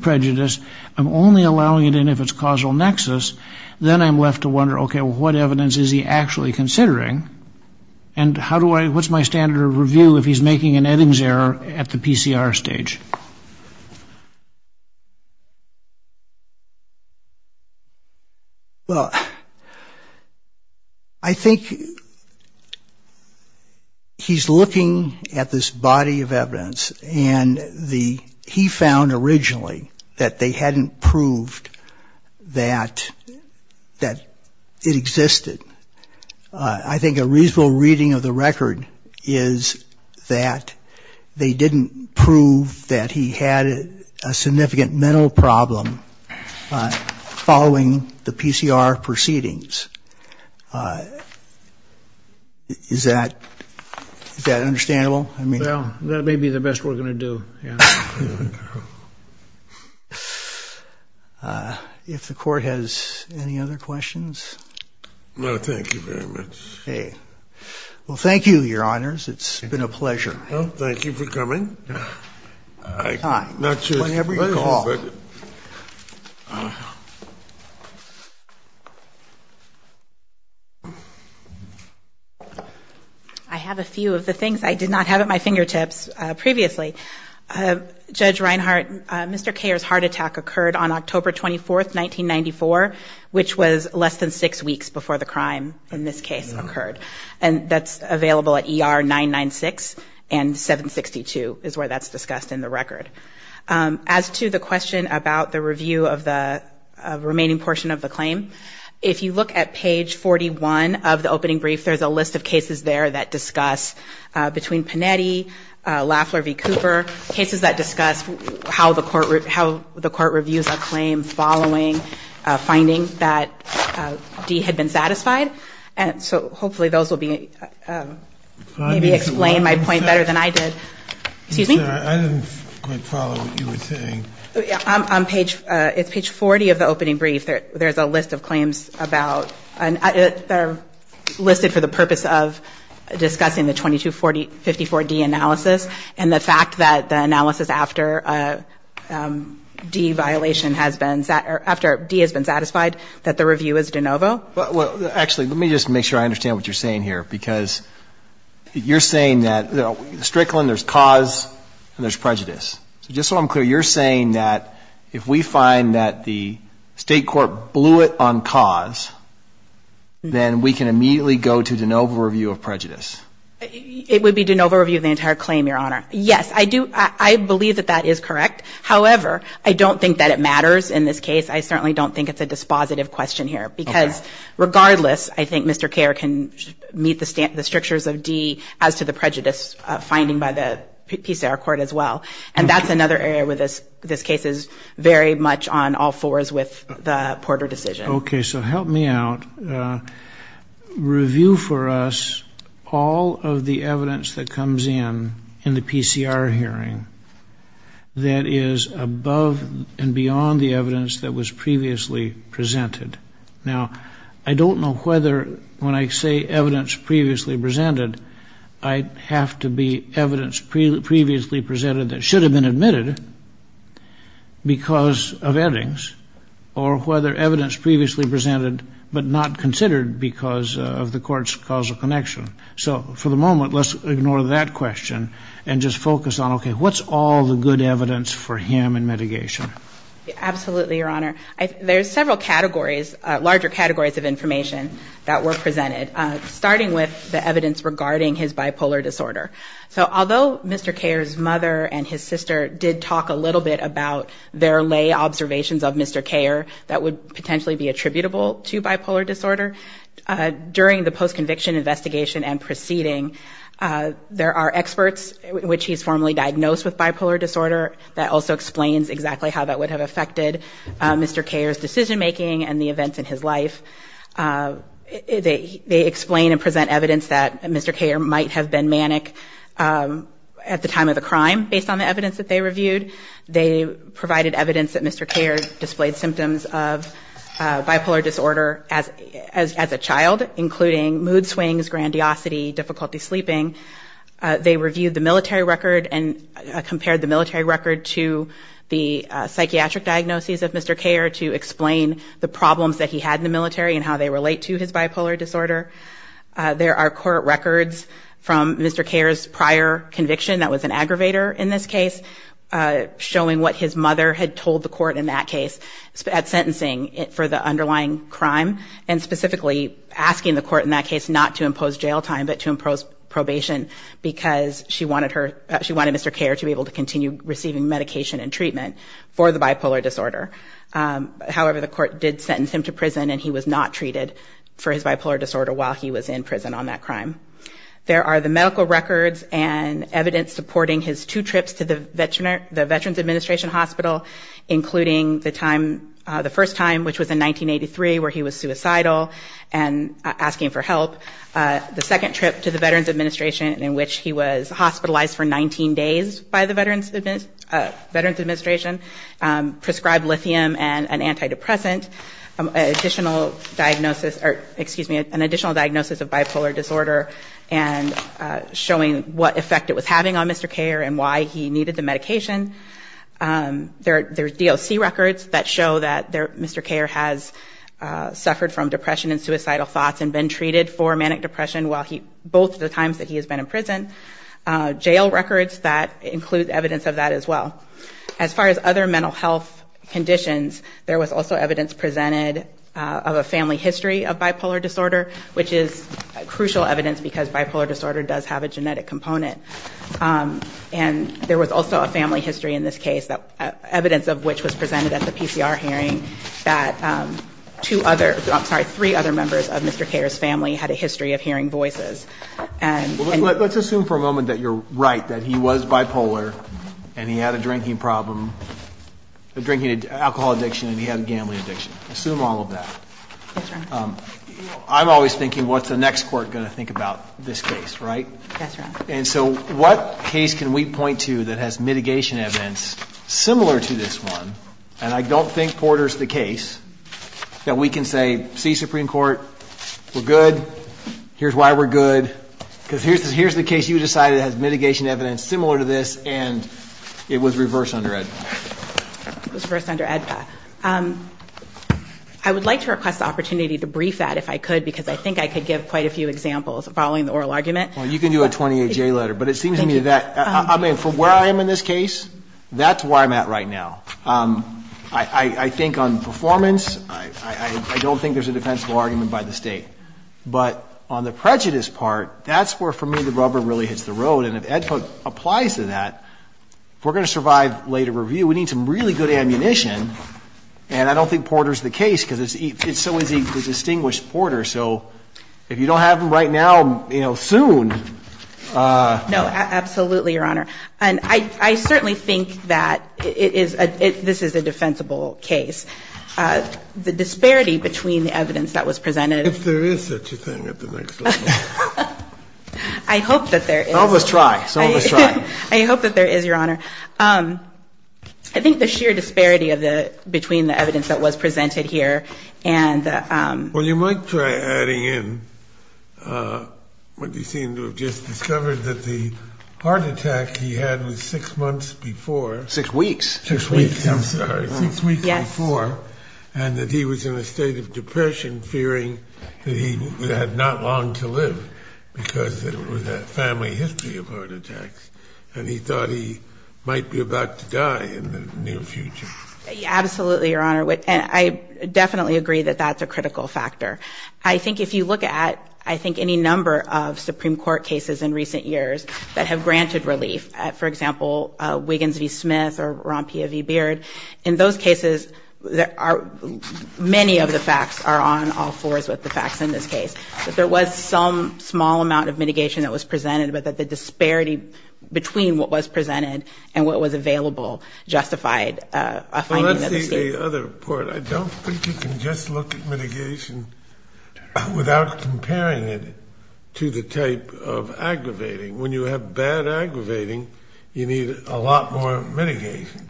prejudice. I'm only allowing it in if it's causal nexus. Then I'm left to wonder, okay, well, what evidence is he actually considering? And what's my standard of review if he's making an Eddings error at the PCR stage? Well, I think he's looking at this body of evidence, and he found originally that they hadn't proved that it existed. I think a reasonable reading of the record is that they didn't prove that he had a significant mental problem following the PCR proceedings. Is that understandable? Well, that may be the best we're going to do. If the court has any other questions. No, thank you very much. Okay. Well, thank you, Your Honors. It's been a pleasure. Thank you for coming. Whenever you call. Thank you. I have a few of the things I did not have at my fingertips previously. Judge Reinhart, Mr. Kayer's heart attack occurred on October 24th, 1994, which was less than six weeks before the crime in this case occurred. And that's available at ER 996 and 762 is where that's discussed in the record. As to the question about the review of the remaining portion of the claim, if you look at page 41 of the opening brief, there's a list of cases there that discuss between Panetti, Lafler v. Cooper, cases that discuss how the court reviews a claim following a finding that D had been satisfied. And so hopefully those will maybe explain my point better than I did. Excuse me? I didn't quite follow what you were saying. It's page 40 of the opening brief. There's a list of claims that are listed for the purpose of discussing the 2254 D analysis and the fact that the analysis after D has been satisfied that the review is de novo. Well, actually, let me just make sure I understand what you're saying here. Because you're saying that in Strickland there's cause and there's prejudice. So just so I'm clear, you're saying that if we find that the state court blew it on cause, then we can immediately go to de novo review of prejudice. It would be de novo review of the entire claim, Your Honor. Yes, I do. I believe that that is correct. However, I don't think that it matters in this case. I certainly don't think it's a dispositive question here. Because regardless, I think Mr. Kare can meet the strictures of D as to the prejudice finding by the PCR court as well. And that's another area where this case is very much on all fours with the Porter decision. Okay, so help me out. Review for us all of the evidence that comes in in the PCR hearing that is above and beyond the evidence that was previously presented. Now, I don't know whether when I say evidence previously presented, I have to be evidence previously presented that should have been admitted because of editings or whether evidence previously presented but not considered because of the court's causal connection. So for the moment, let's ignore that question and just focus on, okay, what's all the good evidence for him in mitigation? Absolutely, Your Honor. There's several categories, larger categories of information that were presented, starting with the evidence regarding his bipolar disorder. So although Mr. Kare's mother and his sister did talk a little bit about their lay observations of Mr. Kare that would potentially be attributable to bipolar disorder, during the post-conviction investigation and proceeding, there are experts which he's formally diagnosed with bipolar disorder that also explains exactly how that would have affected Mr. Kare's decision-making and the events in his life. They explain and present evidence that Mr. Kare might have been manic at the time of the crime, based on the evidence that they reviewed. They provided evidence that Mr. Kare displayed symptoms of bipolar disorder as a child, including mood swings, grandiosity, difficulty sleeping. They reviewed the military record and compared the military record to the psychiatric diagnoses of Mr. Kare to explain the problems that he had in the military and how they relate to his bipolar disorder. There are court records from Mr. Kare's prior conviction that was an aggravator in this case, showing what his mother had told the court in that case at sentencing for the underlying crime, and specifically asking the court in that case not to impose jail time but to impose probation because she wanted Mr. Kare to be able to continue receiving medication and treatment for the bipolar disorder. However, the court did sentence him to prison and he was not treated for his bipolar disorder while he was in prison on that crime. There are the medical records and evidence supporting his two trips to the Veterans Administration Hospital, including the first time, which was in 1983, where he was suicidal and asking for help. The second trip to the Veterans Administration, in which he was hospitalized for 19 days by the Veterans Administration, prescribed lithium and an antidepressant, an additional diagnosis of bipolar disorder and showing what effect it was having on Mr. Kare and why he needed the medication. There are DOC records that show that Mr. Kare has suffered from depression and suicidal thoughts and been treated for manic depression both the times that he has been in prison. Jail records that include evidence of that as well. As far as other mental health conditions, there was also evidence presented of a family history of bipolar disorder, which is crucial evidence because bipolar disorder does have a genetic component. And there was also a family history in this case, evidence of which was presented at the PCR hearing, that three other members of Mr. Kare's family had a history of hearing voices. Let's assume for a moment that you're right, that he was bipolar and he had a drinking problem, alcohol addiction, and he had a gambling addiction. Assume all of that. I'm always thinking, what's the next court going to think about this case, right? Yes, Your Honor. And so what case can we point to that has mitigation evidence similar to this one, and I don't think Porter's the case, that we can say, see, Supreme Court, we're good, here's why we're good, because here's the case you decided has mitigation evidence similar to this, and it was reversed under AEDPA. It was reversed under AEDPA. I would like to request the opportunity to brief that if I could, because I think I could give quite a few examples following the oral argument. Well, you can do a 28-J letter, but it seems to me that, I mean, from where I am in this case, that's where I'm at right now. I think on performance, I don't think there's a defensible argument by the State. But on the prejudice part, that's where, for me, the rubber really hits the road, and if AEDPA applies to that, if we're going to survive later review, we need some really good ammunition, and I don't think Porter's the case because it's so easy to distinguish Porter. So if you don't have him right now, you know, soon. No, absolutely, Your Honor. And I certainly think that it is a, this is a defensible case. The disparity between the evidence that was presented. If there is such a thing at the next level. I hope that there is. Some of us try. Some of us try. I hope that there is, Your Honor. I think the sheer disparity of the, between the evidence that was presented here and the. Well, you might try adding in what you seem to have just discovered, that the heart attack he had was six months before. Six weeks. Six weeks, I'm sorry. Six weeks before. Yes. And that he was in a state of depression fearing that he had not long to live because it was a family history of heart attacks. And he thought he might be about to die in the near future. Absolutely, Your Honor. And I definitely agree that that's a critical factor. I think if you look at, I think, any number of Supreme Court cases in recent years that have granted relief, for example, Wiggins v. Smith or Rompia v. Beard, in those cases many of the facts are on all fours with the facts in this case. But there was some small amount of mitigation that was presented, but that the disparity between what was presented and what was available justified. Well, let's see the other part. I don't think you can just look at mitigation without comparing it to the type of aggravating. When you have bad aggravating, you need a lot more mitigation.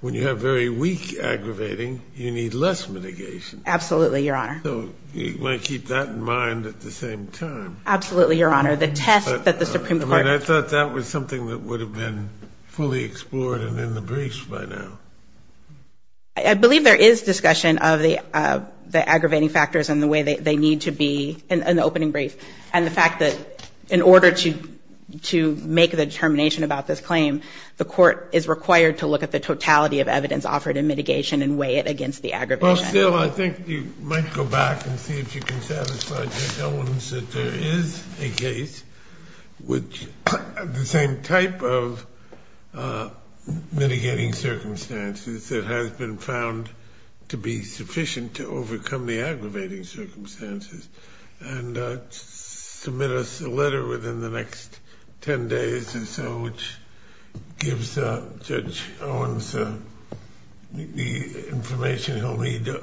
When you have very weak aggravating, you need less mitigation. Absolutely, Your Honor. So you might keep that in mind at the same time. Absolutely, Your Honor. The test that the Supreme Court. I thought that was something that would have been fully explored and in the briefs by now. I believe there is discussion of the aggravating factors and the way they need to be in the opening brief, and the fact that in order to make the determination about this claim, the court is required to look at the totality of evidence offered in mitigation and weigh it against the aggravation. Well, still, I think you might go back and see if you can satisfy Judge Owens that there is a case with the same type of mitigating circumstances that has been found to be sufficient to overcome the aggravating circumstances and submit us a letter within the next 10 days or so, which gives Judge Owens the information he'll need to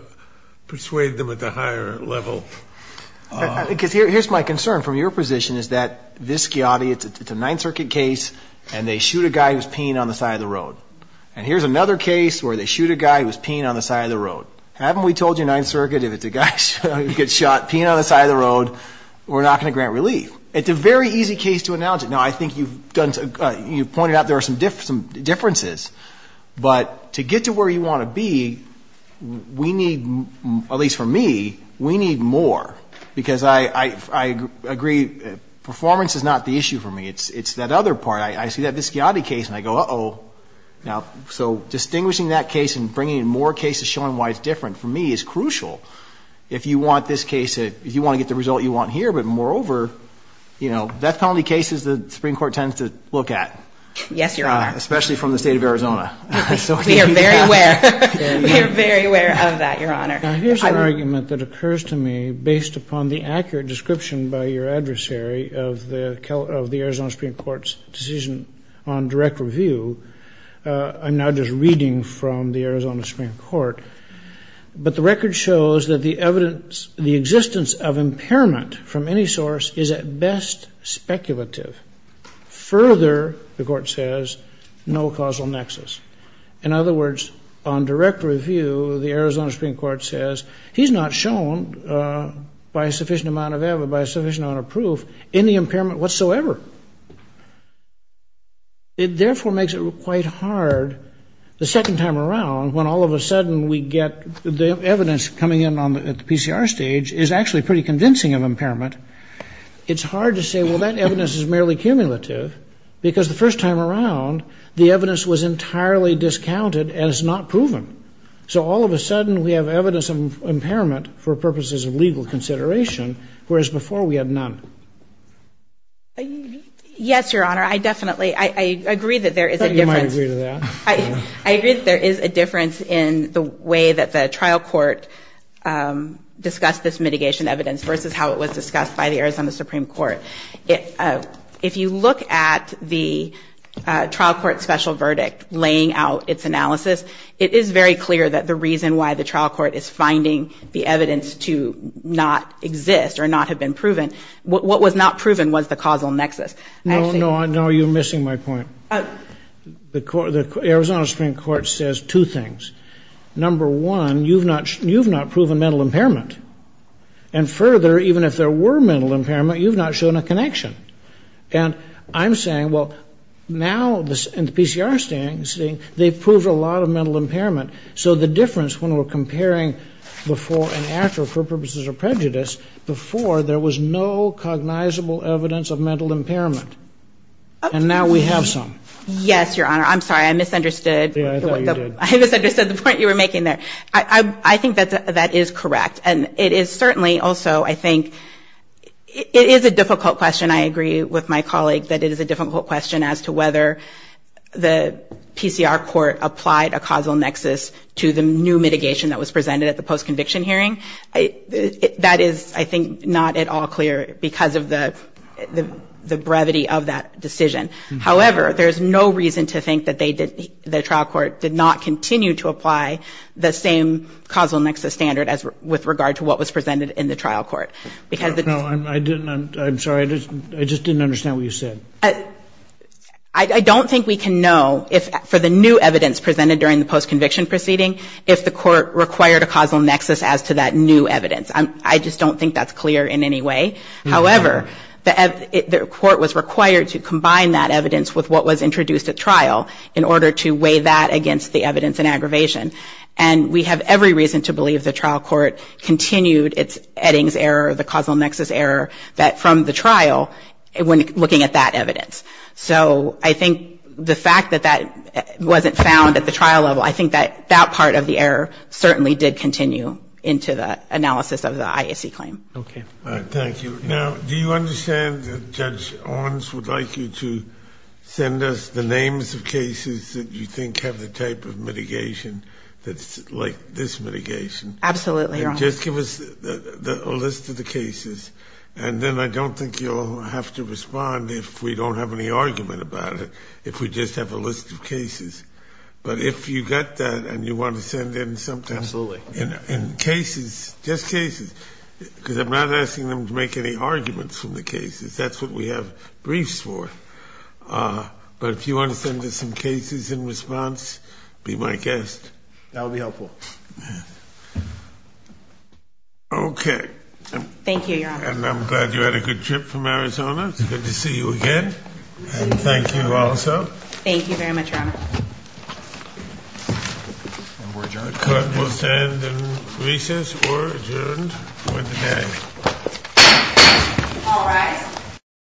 persuade them at the higher level. Because here's my concern from your position is that this schiotti, it's a Ninth Circuit case, and they shoot a guy who's peeing on the side of the road. And here's another case where they shoot a guy who's peeing on the side of the road. Haven't we told you Ninth Circuit if it's a guy who gets shot peeing on the side of the road, we're not going to grant relief? It's a very easy case to announce. Now, I think you've pointed out there are some differences. But to get to where you want to be, we need, at least for me, we need more. Because I agree, performance is not the issue for me. It's that other part. I see that this schiotti case, and I go, uh-oh. So distinguishing that case and bringing in more cases showing why it's different for me is crucial. If you want this case, if you want to get the result you want here, but moreover, you know, death penalty cases the Supreme Court tends to look at. Yes, Your Honor. Especially from the State of Arizona. We are very aware. We are very aware of that, Your Honor. Now, here's an argument that occurs to me based upon the accurate description by your adversary of the Arizona Supreme Court's decision on direct review. I'm now just reading from the Arizona Supreme Court. But the record shows that the evidence, the existence of impairment from any source is at best speculative. Further, the court says, no causal nexus. In other words, on direct review, the Arizona Supreme Court says, he's not shown by a sufficient amount of evidence, by a sufficient amount of proof, any impairment whatsoever. It therefore makes it quite hard, the second time around, when all of a sudden we get the evidence coming in at the PCR stage is actually pretty convincing of impairment. It's hard to say, well, that evidence is merely cumulative, because the first time around the evidence was entirely discounted as not proven. So all of a sudden we have evidence of impairment for purposes of legal consideration, whereas before we had none. Yes, Your Honor. I definitely, I agree that there is a difference. I thought you might agree to that. I agree that there is a difference in the way that the trial court discussed this mitigation evidence versus how it was discussed by the Arizona Supreme Court. If you look at the trial court special verdict laying out its analysis, it is very clear that the reason why the trial court is finding the evidence to not exist or not have been proven, what was not proven was the causal nexus. No, no, you're missing my point. The Arizona Supreme Court says two things. Number one, you've not proven mental impairment. And further, even if there were mental impairment, you've not shown a connection. And I'm saying, well, now in the PCR standing, they've proved a lot of mental impairment. So the difference when we're comparing before and after for purposes of prejudice, before there was no cognizable evidence of mental impairment. And now we have some. Yes, Your Honor. I'm sorry, I misunderstood. Yeah, I thought you did. I misunderstood the point you were making there. I think that is correct. And it is certainly also, I think, it is a difficult question. And I agree with my colleague that it is a difficult question as to whether the PCR court applied a causal nexus to the new mitigation that was presented at the post-conviction hearing. That is, I think, not at all clear because of the brevity of that decision. However, there's no reason to think that the trial court did not continue to apply the same causal nexus standard with regard to what was presented in the trial court. No, I didn't. I'm sorry. I just didn't understand what you said. I don't think we can know for the new evidence presented during the post-conviction proceeding if the court required a causal nexus as to that new evidence. I just don't think that's clear in any way. However, the court was required to combine that evidence with what was introduced at trial in order to weigh that against the evidence in aggravation. And we have every reason to believe the trial court continued its Eddings error, the causal nexus error from the trial when looking at that evidence. So I think the fact that that wasn't found at the trial level, I think that that part of the error certainly did continue into the analysis of the IAC claim. Okay. Thank you. Now, do you understand that Judge Owens would like you to send us the names of cases that you think have the type of mitigation that's like this mitigation? Absolutely, Your Honor. And just give us a list of the cases. And then I don't think you'll have to respond if we don't have any argument about it, if we just have a list of cases. But if you got that and you want to send in something. Absolutely. And cases, just cases, because I'm not asking them to make any arguments from the cases. That's what we have briefs for. But if you want to send us some cases in response, be my guest. That would be helpful. Thank you, Your Honor. And I'm glad you had a good trip from Arizona. It's good to see you again. And thank you also. Thank you very much, Your Honor. Court will stand in recess or adjourned for the day. All rise.